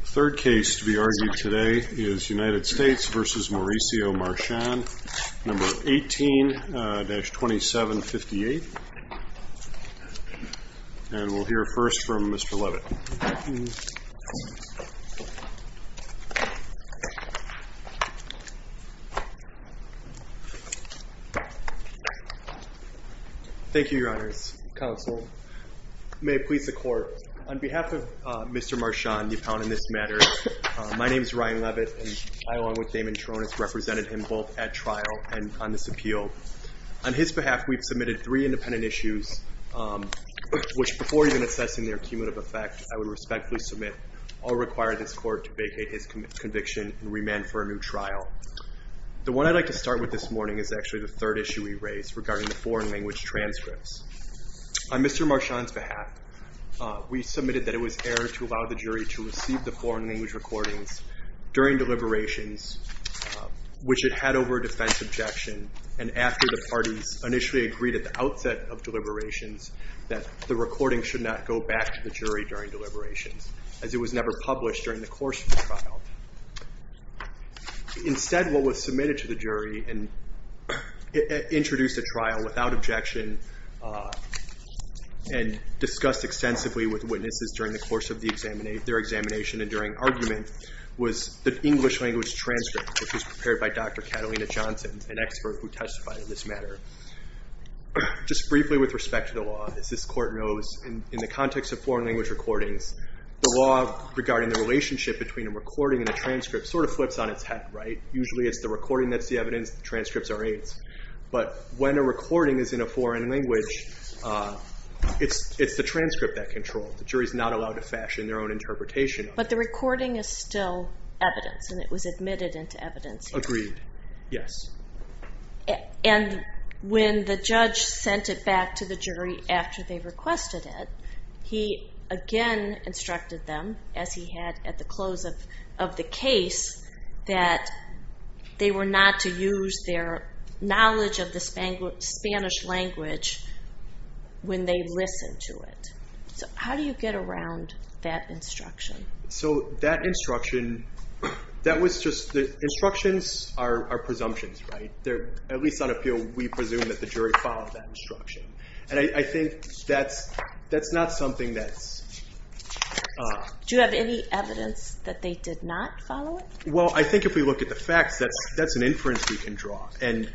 The third case to be argued today is United States v. Mauricio Marchan, No. 18-2758. And we'll hear first from Mr. Levitt. Thank you, Your Honors. Counsel, may it please the Court, on behalf of Mr. Marchan, the appellant in this matter, my name is Ryan Levitt, and I, along with Damon Tronis, represented him both at trial and on this appeal. On his behalf, we've submitted three independent issues, which, before even assessing their cumulative effect, I would respectfully submit all require this Court to vacate his conviction and remand for a new trial. The one I'd like to start with this morning is actually the third issue we raised regarding the foreign language transcripts. On Mr. Marchan's behalf, we submitted that it was error to allow the jury to receive the foreign language recordings during deliberations, which it had over a defense objection, and after the parties initially agreed at the outset of deliberations that the recording should not go back to the jury during deliberations, as it was never published during the course of the trial. Instead, what was submitted to the jury and introduced at trial without objection and discussed extensively with witnesses during the course of their examination and during was the English language transcript, which was prepared by Dr. Catalina Johnson, an expert who testified in this matter. Just briefly with respect to the law, as this Court knows, in the context of foreign language recordings, the law regarding the relationship between a recording and a transcript sort of flips on its head, right? Usually it's the recording that's the evidence, the transcripts are aids. But when a recording is in a foreign language, it's the transcript that controls. The jury's not allowed to fashion their own interpretation. But the recording is still evidence, and it was admitted into evidence. Agreed, yes. And when the judge sent it back to the jury after they requested it, he again instructed them, as he had at the close of the case, that they were not to use their knowledge of the Spanish language when they listened to it. So how do you get around that instruction? So that instruction, that was just the instructions are presumptions, right? At least on appeal, we presume that the jury followed that instruction. And I think that's not something that's... Do you have any evidence that they did not follow it? Well, I think if we look at the facts, that's an inference we can draw. But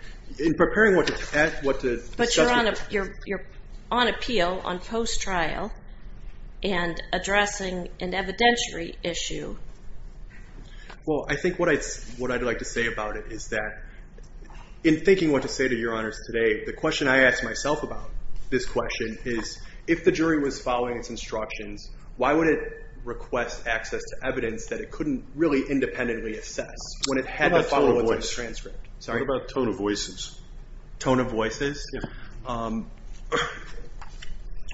you're on appeal, on post-trial, and addressing an evidentiary issue. Well, I think what I'd like to say about it is that in thinking what to say to Your Honors today, the question I ask myself about this question is, if the jury was following its instructions, why would it request access to evidence that it couldn't really independently assess? What about tone of voices? Tone of voices? Yeah.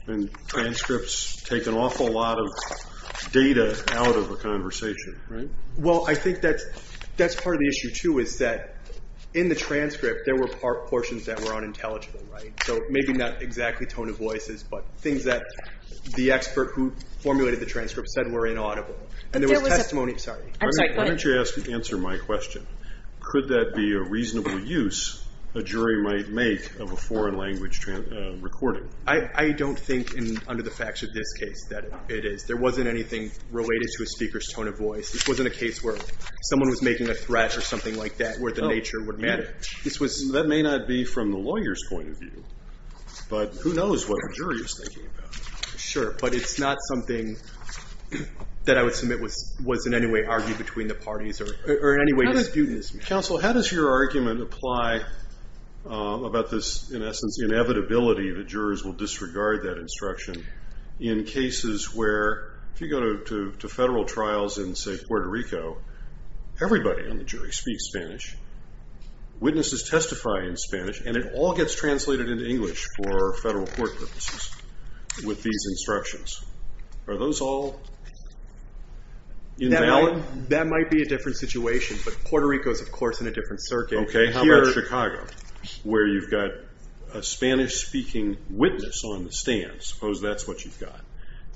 And transcripts take an awful lot of data out of a conversation, right? Well, I think that's part of the issue, too, is that in the transcript, there were portions that were unintelligible, right? So maybe not exactly tone of voices, but things that the expert who formulated the transcript said were inaudible. Why don't you answer my question? Could that be a reasonable use a jury might make of a foreign language recording? I don't think, under the facts of this case, that it is. There wasn't anything related to a speaker's tone of voice. This wasn't a case where someone was making a threat or something like that, where the nature would matter. That may not be from the lawyer's point of view, but who knows what the jury is thinking about? Sure. But it's not something that I would submit was in any way argued between the parties or in any way disputed. Counsel, how does your argument apply about this, in essence, inevitability that jurors will disregard that instruction in cases where, if you go to federal trials in, say, Puerto Rico, everybody on the jury speaks Spanish, witnesses testify in Spanish, and it all gets translated into English for federal court purposes with these instructions. Are those all invalid? That might be a different situation, but Puerto Rico is, of course, in a different circuit. Okay. How about Chicago, where you've got a Spanish-speaking witness on the stand, suppose that's what you've got,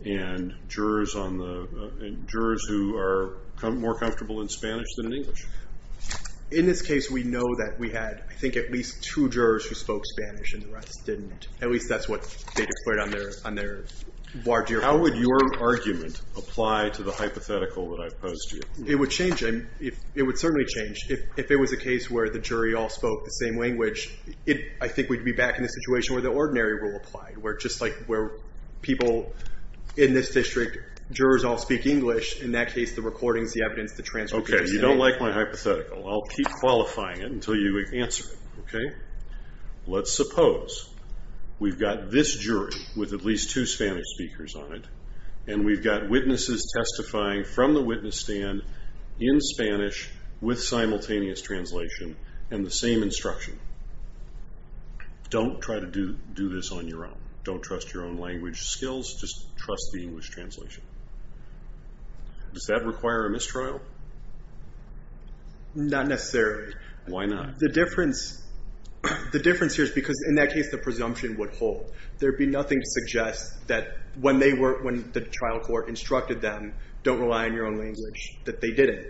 and jurors who are more comfortable in Spanish than in English? In this case, we know that we had, I think, at least two jurors who spoke Spanish and the rest didn't. At least that's what they declared on their voir dire. How would your argument apply to the hypothetical that I've posed to you? It would change. It would certainly change. If it was a case where the jury all spoke the same language, I think we'd be back in a situation where the ordinary rule applied, where people in this district, jurors all speak English. In that case, the recordings, the evidence, the transcripts would be the same. Okay. You don't like my hypothetical. I'll keep qualifying it until you answer it. Let's suppose we've got this jury with at least two Spanish speakers on it, and we've got witnesses testifying from the witness stand in Spanish with simultaneous translation and the same instruction. Don't try to do this on your own. Don't trust your own language skills. Just trust the English translation. Does that require a mistrial? Not necessarily. Why not? The difference here is because, in that case, the presumption would hold. There would be nothing to suggest that when the trial court instructed them, don't rely on your own language, that they didn't.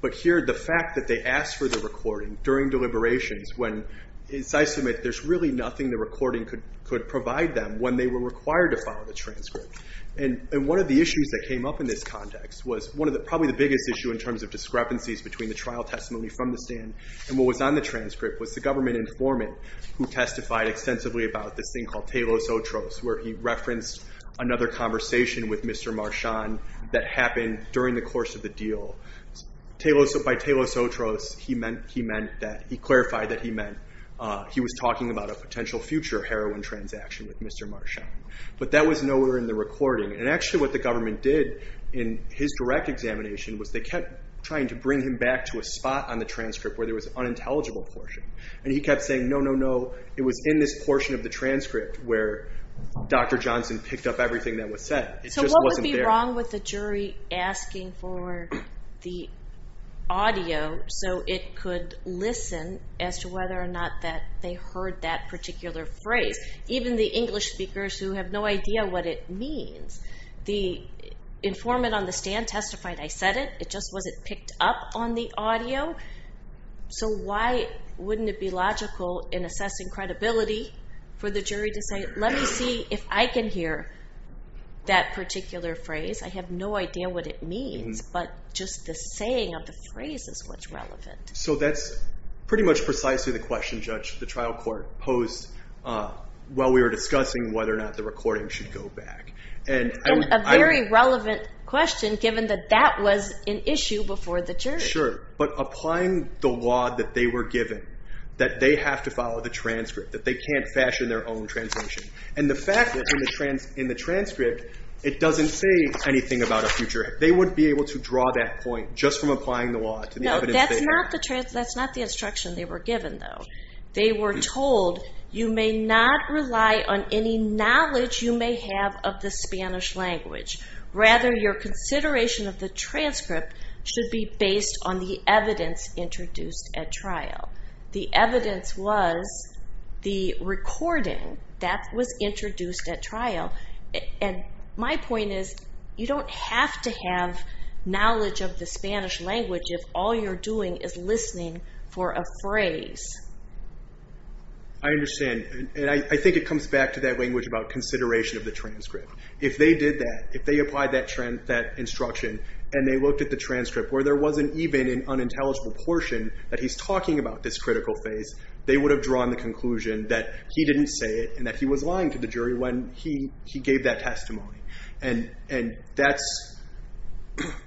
But here, the fact that they asked for the recording during deliberations when, as I submit, there's really nothing the recording could provide them when they were required to follow the transcript. One of the issues that came up in this context was probably the biggest issue in terms of discrepancies between the trial testimony from the stand and what was on the transcript was the government informant who testified extensively about this thing called Telos Otros, where he referenced another conversation with Mr. Marchand that happened during the course of the deal. By Telos Otros, he clarified that he meant he was talking about a potential future heroin transaction with Mr. Marchand. But that was nowhere in the recording. And actually what the government did in his direct examination was they kept trying to bring him back to a spot on the transcript where there was an unintelligible portion. And he kept saying, no, no, no, it was in this portion of the transcript where Dr. Johnson picked up everything that was said. It just wasn't there. So what would be wrong with the jury asking for the audio so it could listen as to whether or not they heard that particular phrase? Even the English speakers who have no idea what it means, the informant on the stand testified, I said it, it just wasn't picked up on the audio. So why wouldn't it be logical in assessing credibility for the jury to say, let me see if I can hear that particular phrase. I have no idea what it means, but just the saying of the phrase is what's relevant. So that's pretty much precisely the question, Judge, that the trial court posed while we were discussing whether or not the recording should go back. And a very relevant question given that that was an issue before the jury. Sure, but applying the law that they were given, that they have to follow the transcript, that they can't fashion their own translation. And the fact that in the transcript it doesn't say anything about a future, they wouldn't be able to draw that point just from applying the law to the evidence. That's not the instruction they were given, though. They were told, you may not rely on any knowledge you may have of the Spanish language. Rather, your consideration of the transcript should be based on the evidence introduced at trial. The evidence was the recording that was introduced at trial. And my point is, you don't have to have knowledge of the Spanish language if all you're doing is listening for a phrase. I understand. And I think it comes back to that language about consideration of the transcript. If they did that, if they applied that instruction and they looked at the transcript where there wasn't even an unintelligible portion that he's talking about this critical phase, they would have drawn the conclusion that he didn't say it and that he was lying to the jury when he gave that testimony. But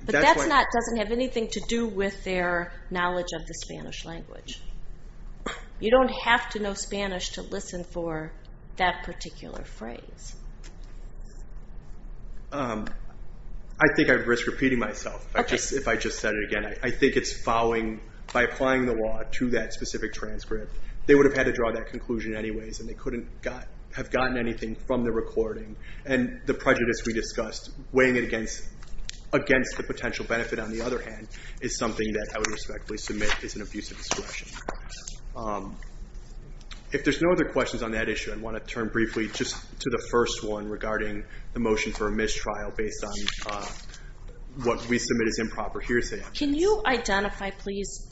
that doesn't have anything to do with their knowledge of the Spanish language. You don't have to know Spanish to listen for that particular phrase. I think I'd risk repeating myself if I just said it again. I think it's following, by applying the law to that specific transcript, they would have had to draw that conclusion anyways and they couldn't have gotten anything from the recording. And the prejudice we discussed, weighing it against the potential benefit, on the other hand, is something that I would respectfully submit is an abuse of discretion. If there's no other questions on that issue, I want to turn briefly just to the first one regarding the motion for a mistrial based on what we submit as improper hearsay. Can you identify, please,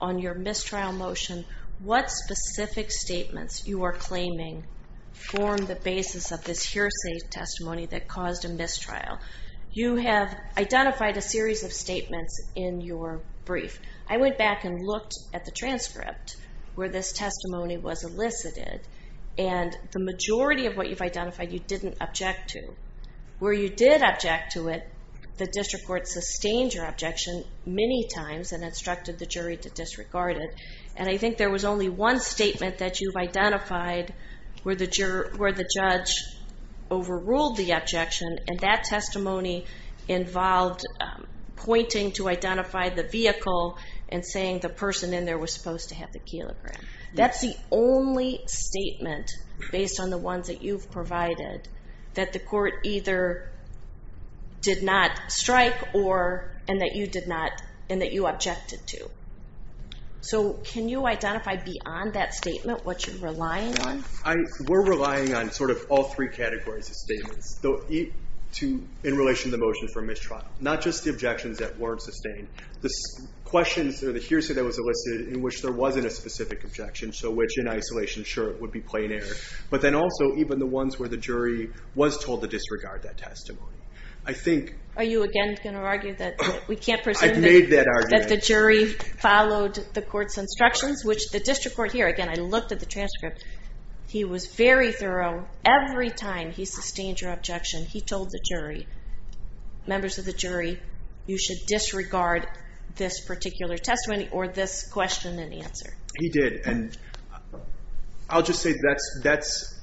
on your mistrial motion, what specific statements you are claiming form the basis of this hearsay testimony that caused a mistrial? You have identified a series of statements in your brief. I went back and looked at the transcript where this testimony was elicited and the majority of what you've identified you didn't object to. Where you did object to it, the district court sustained your objection many times and instructed the jury to disregard it. And I think there was only one statement that you've identified where the judge overruled the objection, and that testimony involved pointing to identify the vehicle and saying the person in there was supposed to have the kelogram. That's the only statement based on the ones that you've provided that the court either did not strike or that you objected to. So can you identify beyond that statement what you're relying on? We're relying on sort of all three categories of statements in relation to the motion for mistrial. Not just the objections that weren't sustained. The questions or the hearsay that was elicited in which there wasn't a specific objection, which in isolation, sure, would be plain error. But then also even the ones where the jury was told to disregard that testimony. Are you again going to argue that we can't presume that the jury followed the court's instructions, which the district court here, again, I looked at the transcript. He was very thorough. Every time he sustained your objection, he told the jury, members of the jury, you should disregard this particular testimony or this question and answer. He did. And I'll just say that's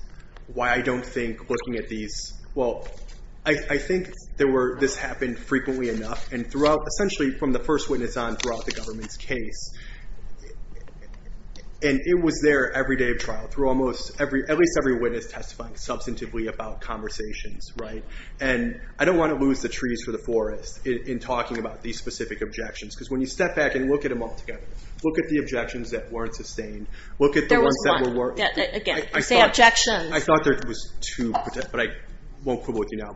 why I don't think looking at these, well, I think this happened frequently enough, and essentially from the first witness on throughout the government's case. And it was there every day of trial through almost every, at least every witness testifying substantively about conversations. And I don't want to lose the trees for the forest in talking about these specific objections. Because when you step back and look at them all together, look at the objections that weren't sustained, look at the ones that were. There was one. Again, say objections. I thought there was two, but I won't quibble with you now.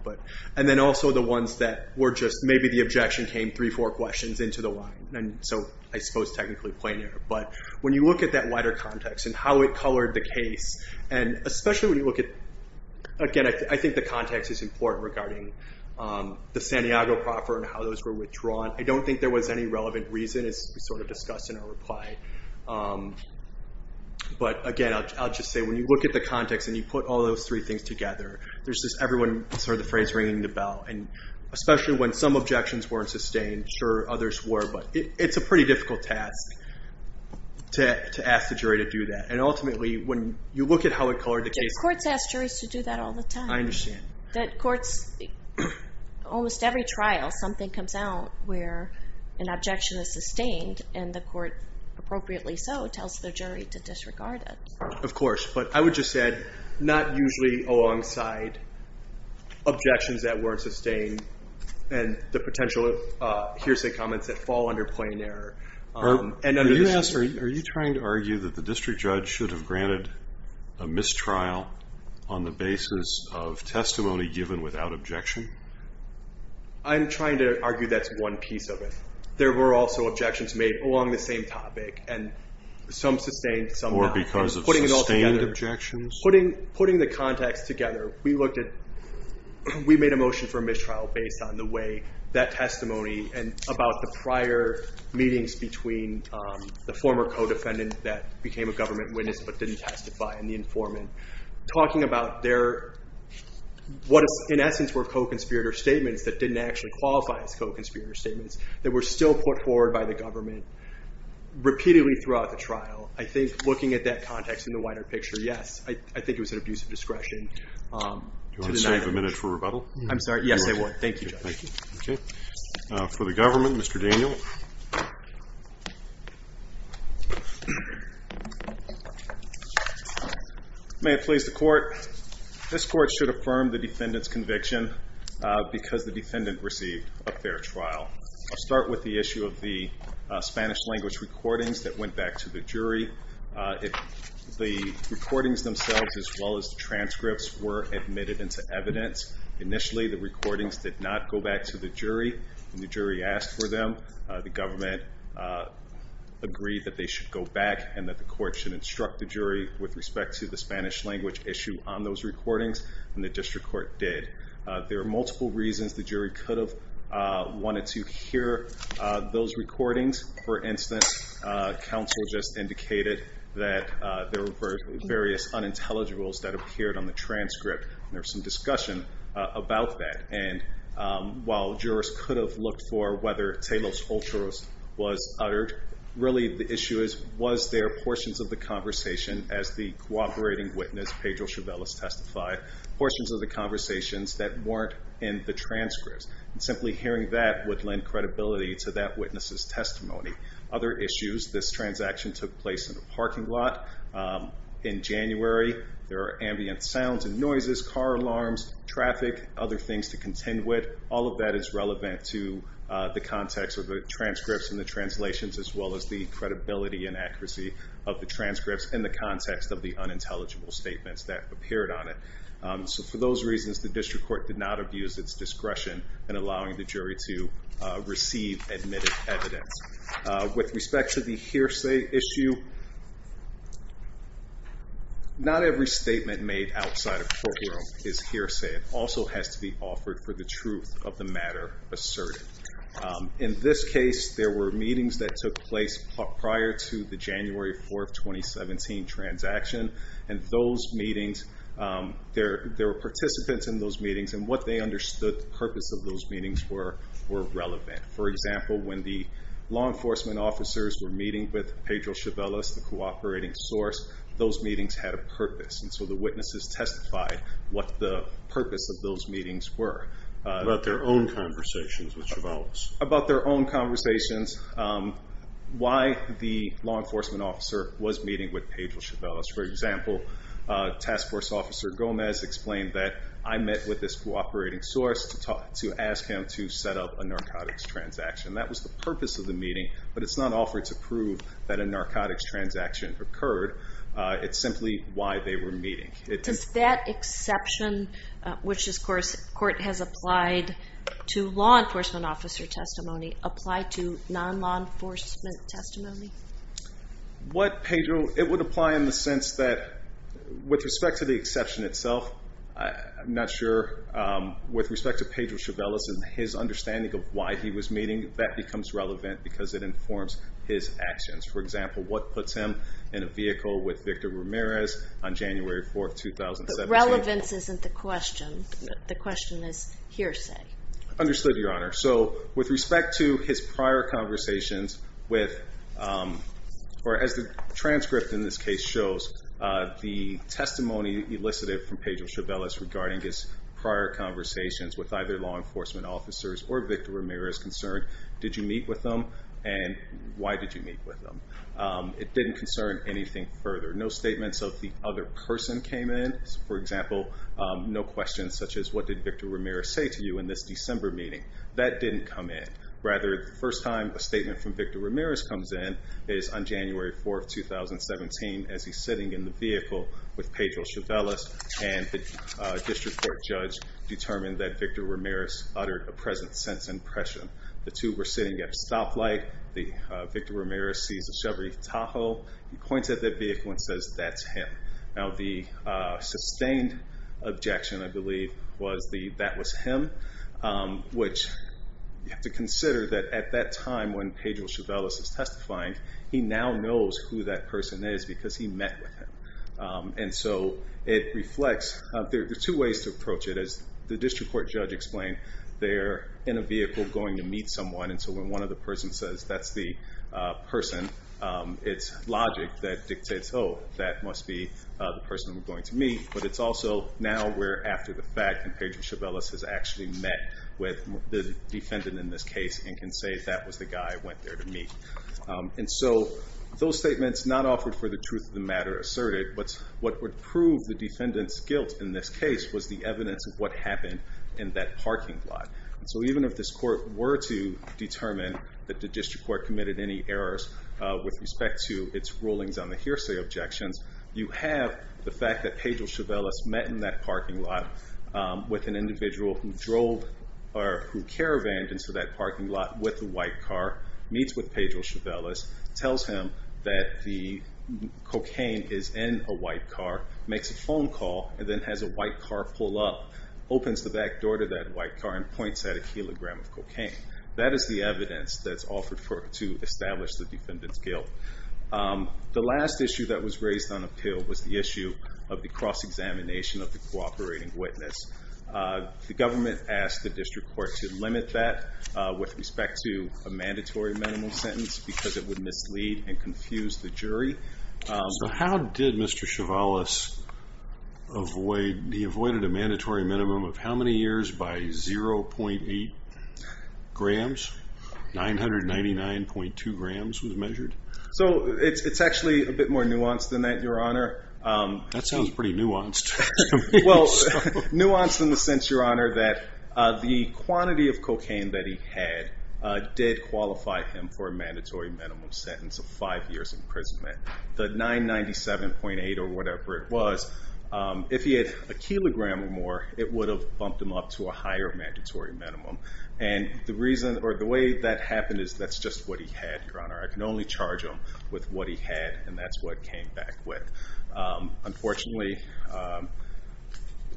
And then also the ones that were just maybe the objection came three, four questions into the line. And so I suppose technically planar. But when you look at that wider context and how it colored the case, and especially when you look at, again, I think the context is important regarding the Santiago proffer and how those were withdrawn. I don't think there was any relevant reason, as we sort of discussed in our reply. But, again, I'll just say when you look at the context and you put all those three things together, there's just everyone sort of the phrase ringing the bell. And especially when some objections weren't sustained. Sure, others were. But it's a pretty difficult task to ask the jury to do that. And ultimately, when you look at how it colored the case. Courts ask juries to do that all the time. I understand. Courts, almost every trial something comes out where an objection is sustained and the court appropriately so tells the jury to disregard it. Of course. But I would just add, not usually alongside objections that weren't sustained and the potential hearsay comments that fall under plain error. Are you trying to argue that the district judge should have granted a mistrial on the basis of testimony given without objection? I'm trying to argue that's one piece of it. There were also objections made along the same topic. And some sustained, some not. Because of sustained objections? Putting the context together. We made a motion for mistrial based on the way that testimony and about the prior meetings between the former co-defendant that became a government witness but didn't testify and the informant. Talking about what in essence were co-conspirator statements that didn't actually qualify as co-conspirator statements that were still put forward by the government repeatedly throughout the trial. I think looking at that context in the wider picture, yes. I think it was an abuse of discretion. Do you want to save a minute for rebuttal? I'm sorry, yes I would. Thank you, Judge. Okay. For the government, Mr. Daniel. May it please the court, this court should affirm the defendant's conviction because the defendant received a fair trial. I'll start with the issue of the Spanish language recordings that went back to the jury. The recordings themselves as well as the transcripts were admitted into evidence. Initially the recordings did not go back to the jury. When the jury asked for them, the government agreed that they should go back and that the court should instruct the jury with respect to the Spanish language issue on those recordings and the district court did. There are multiple reasons the jury could have wanted to hear those recordings. For instance, counsel just indicated that there were various unintelligibles that appeared on the transcript. There was some discussion about that. And while jurors could have looked for whether telos oltros was uttered, really the issue is was there portions of the conversation, as the cooperating witness, Pedro Chavez, testified, portions of the conversations that weren't in the transcripts. Simply hearing that would lend credibility to that witness's testimony. Other issues, this transaction took place in a parking lot in January. There are ambient sounds and noises, car alarms, traffic, other things to contend with. All of that is relevant to the context of the transcripts and the translations as well as the credibility and accuracy of the transcripts in the context of the unintelligible statements that appeared on it. For those reasons, the district court did not abuse its discretion in allowing the jury to receive admitted evidence. With respect to the hearsay issue, not every statement made outside of courtroom is hearsay. It also has to be offered for the truth of the matter asserted. In this case, there were meetings that took place prior to the January 4, 2017, transaction. Those meetings, there were participants in those meetings, and what they understood the purpose of those meetings were, were relevant. For example, when the law enforcement officers were meeting with Pedro Chavez, the cooperating source, those meetings had a purpose. So the witnesses testified what the purpose of those meetings were. About their own conversations with Chavez. About their own conversations. Why the law enforcement officer was meeting with Pedro Chavez. For example, task force officer Gomez explained that, I met with this cooperating source to ask him to set up a narcotics transaction. That was the purpose of the meeting, but it's not offered to prove that a narcotics transaction occurred. It's simply why they were meeting. Does that exception, which this court has applied to law enforcement officer testimony, apply to non-law enforcement testimony? What Pedro, it would apply in the sense that, with respect to the exception itself, I'm not sure, with respect to Pedro Chavez and his understanding of why he was meeting, that becomes relevant because it informs his actions. For example, what puts him in a vehicle with Victor Ramirez on January 4, 2017. But relevance isn't the question. The question is hearsay. Understood, Your Honor. So with respect to his prior conversations with, or as the transcript in this case shows, the testimony elicited from Pedro Chavez regarding his prior conversations with either law enforcement officers or Victor Ramirez concerned, did you meet with them and why did you meet with them? It didn't concern anything further. No statements of the other person came in. For example, no questions such as, what did Victor Ramirez say to you in this December meeting? That didn't come in. Rather, the first time a statement from Victor Ramirez comes in is on January 4, 2017, as he's sitting in the vehicle with Pedro Chavez and the district court judge determined that Victor Ramirez uttered a present sense impression. The two were sitting at a stoplight. Victor Ramirez sees a Chevrolet Tahoe. He points at that vehicle and says, that's him. Now the sustained objection, I believe, was the that was him, which you have to consider that at that time when Pedro Chavez is testifying, he now knows who that person is because he met with him. And so it reflects, there are two ways to approach it. As the district court judge explained, they're in a vehicle going to meet someone, and so when one of the persons says, that's the person, it's logic that dictates, oh, that must be the person we're going to meet. But it's also now we're after the fact, and Pedro Chavez has actually met with the defendant in this case and can say that was the guy I went there to meet. And so those statements not offered for the truth of the matter asserted, but what would prove the defendant's guilt in this case was the evidence of what happened in that parking lot. So even if this court were to determine that the district court committed any errors with respect to its rulings on the hearsay objections, you have the fact that Pedro Chavez met in that parking lot with an individual who drove or who caravaned into that parking lot with a white car, meets with Pedro Chavez, tells him that the cocaine is in a white car, makes a phone call, and then has a white car pull up, opens the back door to that white car, and points at a kilogram of cocaine. That is the evidence that's offered to establish the defendant's guilt. The last issue that was raised on appeal was the issue of the cross-examination of the cooperating witness. The government asked the district court to limit that with respect to a mandatory minimum sentence because it would mislead and confuse the jury. So how did Mr. Chevalis avoid a mandatory minimum of how many years by 0.8 grams? 999.2 grams was measured? So it's actually a bit more nuanced than that, Your Honor. That sounds pretty nuanced. Well, nuanced in the sense, Your Honor, that the quantity of cocaine that he had did qualify him for a mandatory minimum sentence of five years imprisonment. The 997.8 or whatever it was, if he had a kilogram or more, it would have bumped him up to a higher mandatory minimum. The way that happened is that's just what he had, Your Honor. I can only charge him with what he had, and that's what came back with. Unfortunately,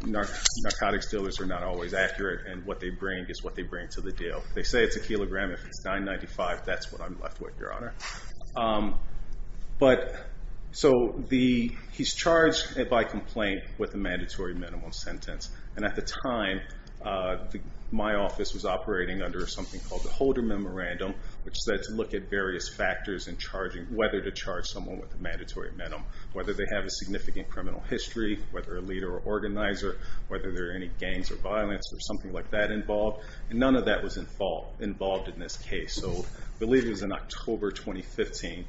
narcotics dealers are not always accurate, and what they bring is what they bring to the deal. They say it's a kilogram. If it's 995, that's what I'm left with, Your Honor. He's charged by complaint with a mandatory minimum sentence. At the time, my office was operating under something called the Holder Memorandum, which said to look at various factors in whether to charge someone with a mandatory minimum, whether they have a significant criminal history, whether a leader or organizer, whether there are any gangs or violence or something like that involved. None of that was involved in this case. I believe it was in October 2015,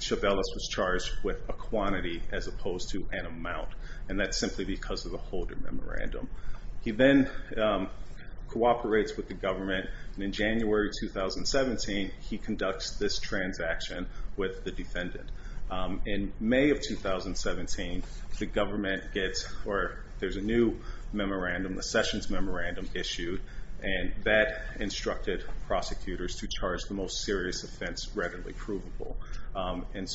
Chabelis was charged with a quantity as opposed to an amount, and that's simply because of the Holder Memorandum. He then cooperates with the government, and in January 2017, he conducts this transaction with the defendant. In May of 2017, the government gets, or there's a new memorandum, the Sessions Memorandum issued, and that instructed prosecutors to charge the most serious offense readily provable.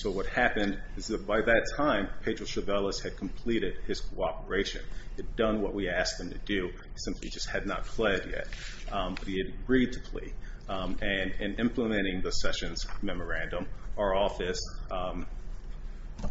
What happened is that by that time, Pedro Chabelis had completed his cooperation. He had done what we asked him to do. He simply just had not pled yet, but he had agreed to plead. In implementing the Sessions Memorandum, our office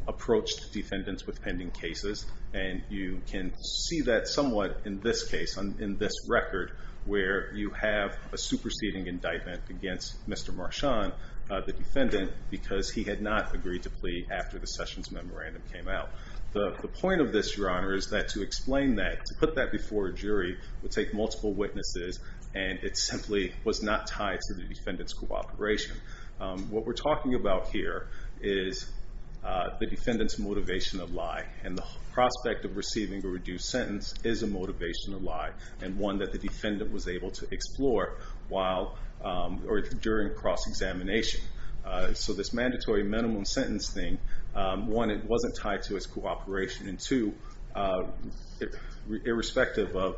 approached defendants with pending cases, and you can see that somewhat in this case, in this record, where you have a superseding indictment against Mr. Marchand, the defendant, because he had not agreed to plead after the Sessions Memorandum came out. The point of this, Your Honor, is that to explain that, to put that before a jury would take multiple witnesses, and it simply was not tied to the defendant's cooperation. What we're talking about here is the defendant's motivation of lie, and the prospect of receiving a reduced sentence is a motivation of lie, and one that the defendant was able to explore while, or during cross-examination. So this mandatory minimum sentence thing, one, it wasn't tied to his cooperation, and two, irrespective of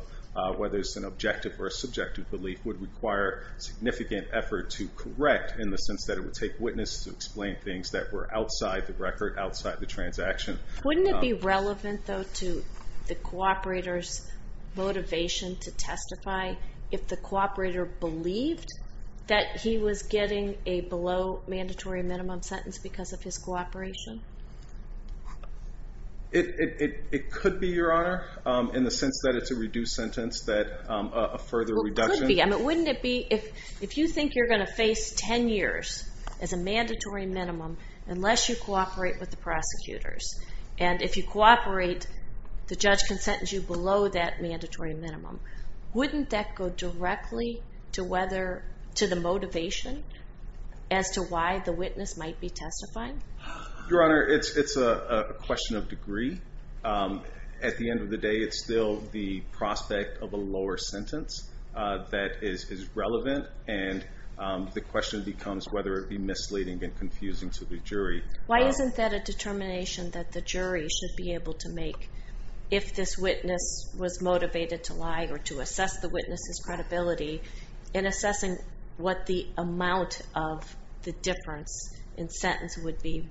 whether it's an objective or a subjective belief, would require significant effort to correct in the sense that it would take witness to explain things that were outside the record, outside the transaction. Wouldn't it be relevant, though, to the cooperator's motivation to testify if the cooperator believed that he was getting a below-mandatory minimum sentence because of his cooperation? It could be, Your Honor, in the sense that it's a reduced sentence, that a further reduction. Well, it could be. I mean, wouldn't it be if you think you're going to face 10 years as a mandatory minimum unless you cooperate with the prosecutors, and if you cooperate, the judge can sentence you below that mandatory minimum. Wouldn't that go directly to the motivation as to why the witness might be testifying? Your Honor, it's a question of degree. At the end of the day, it's still the prospect of a lower sentence that is relevant, and the question becomes whether it would be misleading and confusing to the jury. Why isn't that a determination that the jury should be able to make if this witness was motivated to lie or to assess the witness's credibility in assessing what the amount of the difference in sentence would be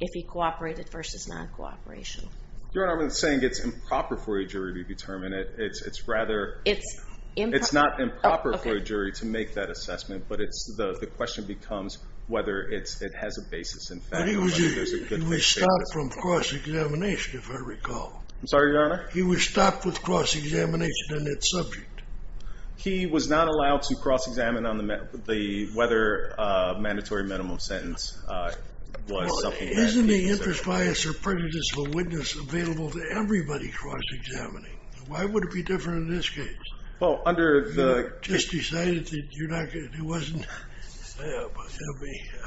if he cooperated versus non-cooperation? Your Honor, I'm not saying it's improper for a jury to determine it. It's not improper for a jury to make that assessment, but the question becomes whether it has a basis in fact. He was stopped from cross-examination, if I recall. I'm sorry, Your Honor? He was stopped with cross-examination on that subject. He was not allowed to cross-examine on the whether a mandatory minimum sentence was something that he said. Isn't the interest, bias, or prejudice of a witness available to everybody cross-examining? Why would it be different in this case? You just decided that it wasn't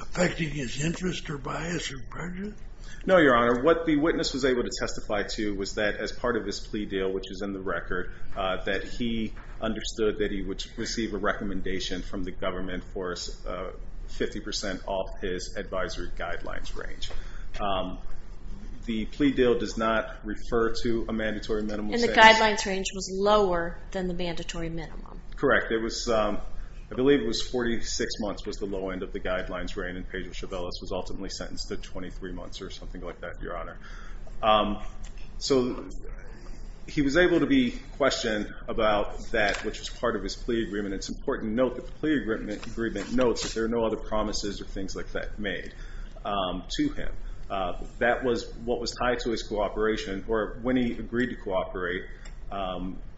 affecting his interest or bias or prejudice? No, Your Honor. What the witness was able to testify to was that as part of his plea deal, which was in the record, that he understood that he would receive a recommendation from the government for 50% off his advisory guidelines range. And the guidelines range was lower than the mandatory minimum. Correct. I believe it was 46 months was the low end of the guidelines range, and Pedro Chavez was ultimately sentenced to 23 months or something like that, Your Honor. So he was able to be questioned about that, which was part of his plea agreement. It's important to note that the plea agreement notes that there are no other promises or things like that made to him. That was what was tied to his cooperation, or when he agreed to cooperate.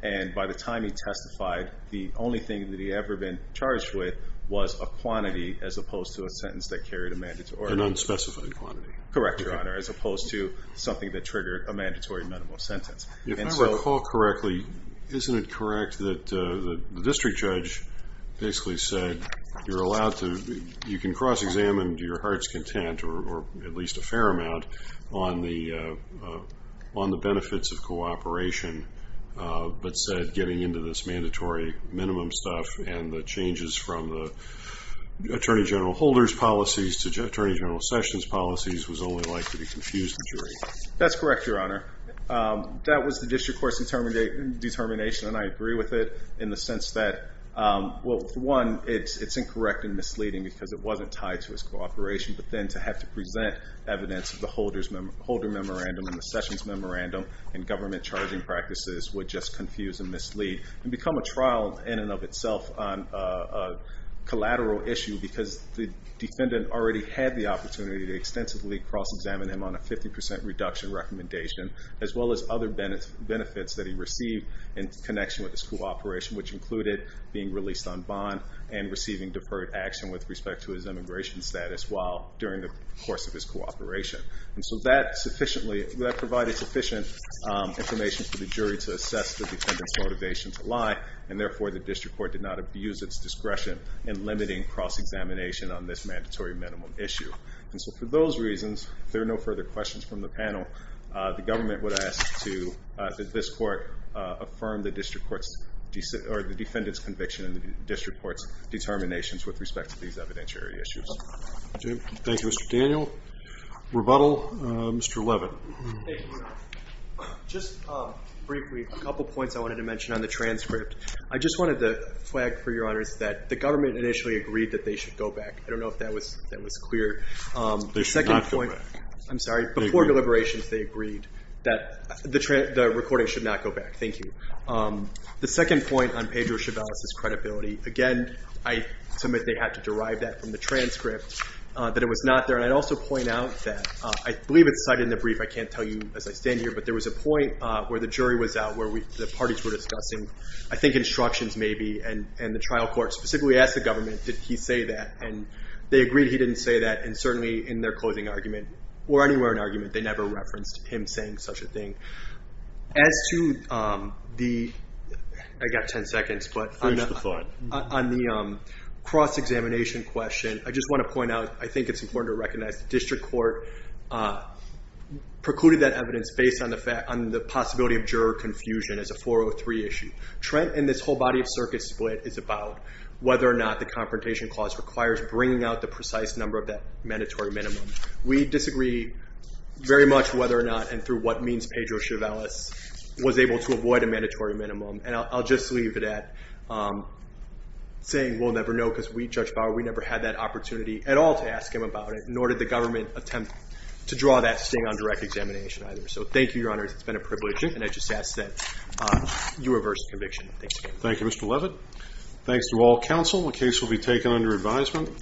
And by the time he testified, the only thing that he had ever been charged with was a quantity, as opposed to a sentence that carried a mandatory minimum. An unspecified quantity. Correct, Your Honor, as opposed to something that triggered a mandatory minimum sentence. If I recall correctly, isn't it correct that the district judge basically said, you're allowed to cross-examine to your heart's content, or at least a fair amount, on the benefits of cooperation, but said getting into this mandatory minimum stuff and the changes from the Attorney General Holder's policies to Attorney General Sessions' policies was only likely to confuse the jury? That's correct, Your Honor. That was the district court's determination, and I agree with it in the sense that, well, for one, it's incorrect and misleading because it wasn't tied to his cooperation, but then to have to present evidence of the Holder Memorandum and the Sessions Memorandum and government charging practices would just confuse and mislead and become a trial in and of itself on a collateral issue because the defendant already had the opportunity to extensively cross-examine him on a 50% reduction recommendation, as well as other benefits that he received in connection with his cooperation, which included being released on bond and receiving deferred action with respect to his immigration status during the course of his cooperation. And so that provided sufficient information for the jury to assess the defendant's motivation to lie, and therefore the district court did not abuse its discretion in limiting cross-examination on this mandatory minimum issue. And so for those reasons, if there are no further questions from the panel, the government would ask that this court affirm the defendant's conviction in the district court's determinations with respect to these evidentiary issues. Thank you, Mr. Daniel. Rebuttal, Mr. Levin. Thank you, Your Honor. Just briefly, a couple points I wanted to mention on the transcript. I just wanted to flag for Your Honors that the government initially agreed that they should go back. I don't know if that was clear. They should not go back. I'm sorry. Before deliberations, they agreed that the recording should not go back. Thank you. The second point on Pedro Chavez's credibility, again, I submit they had to derive that from the transcript, that it was not there. And I'd also point out that I believe it's cited in the brief. I can't tell you as I stand here, but there was a point where the jury was out, where the parties were discussing, I think, instructions maybe, and the trial court specifically asked the government, did he say that? And they agreed he didn't say that. And certainly in their closing argument, or anywhere in the argument, they never referenced him saying such a thing. As to the cross-examination question, I just want to point out, I think it's important to recognize the district court precluded that evidence based on the possibility of juror confusion as a 403 issue. Trent and this whole body of circuit split is about whether or not the confrontation clause requires bringing out the precise number of that mandatory minimum. We disagree very much whether or not, and through what means, Pedro Chavez was able to avoid a mandatory minimum. And I'll just leave it at saying we'll never know because we, Judge Bauer, we never had that opportunity at all to ask him about it, nor did the government attempt to draw that sting on direct examination either. So thank you, Your Honors. It's been a privilege. And I just ask that you reverse the conviction. Thanks again. Thank you, Mr. Levitt. Thanks to all counsel. The case will be taken under advisement.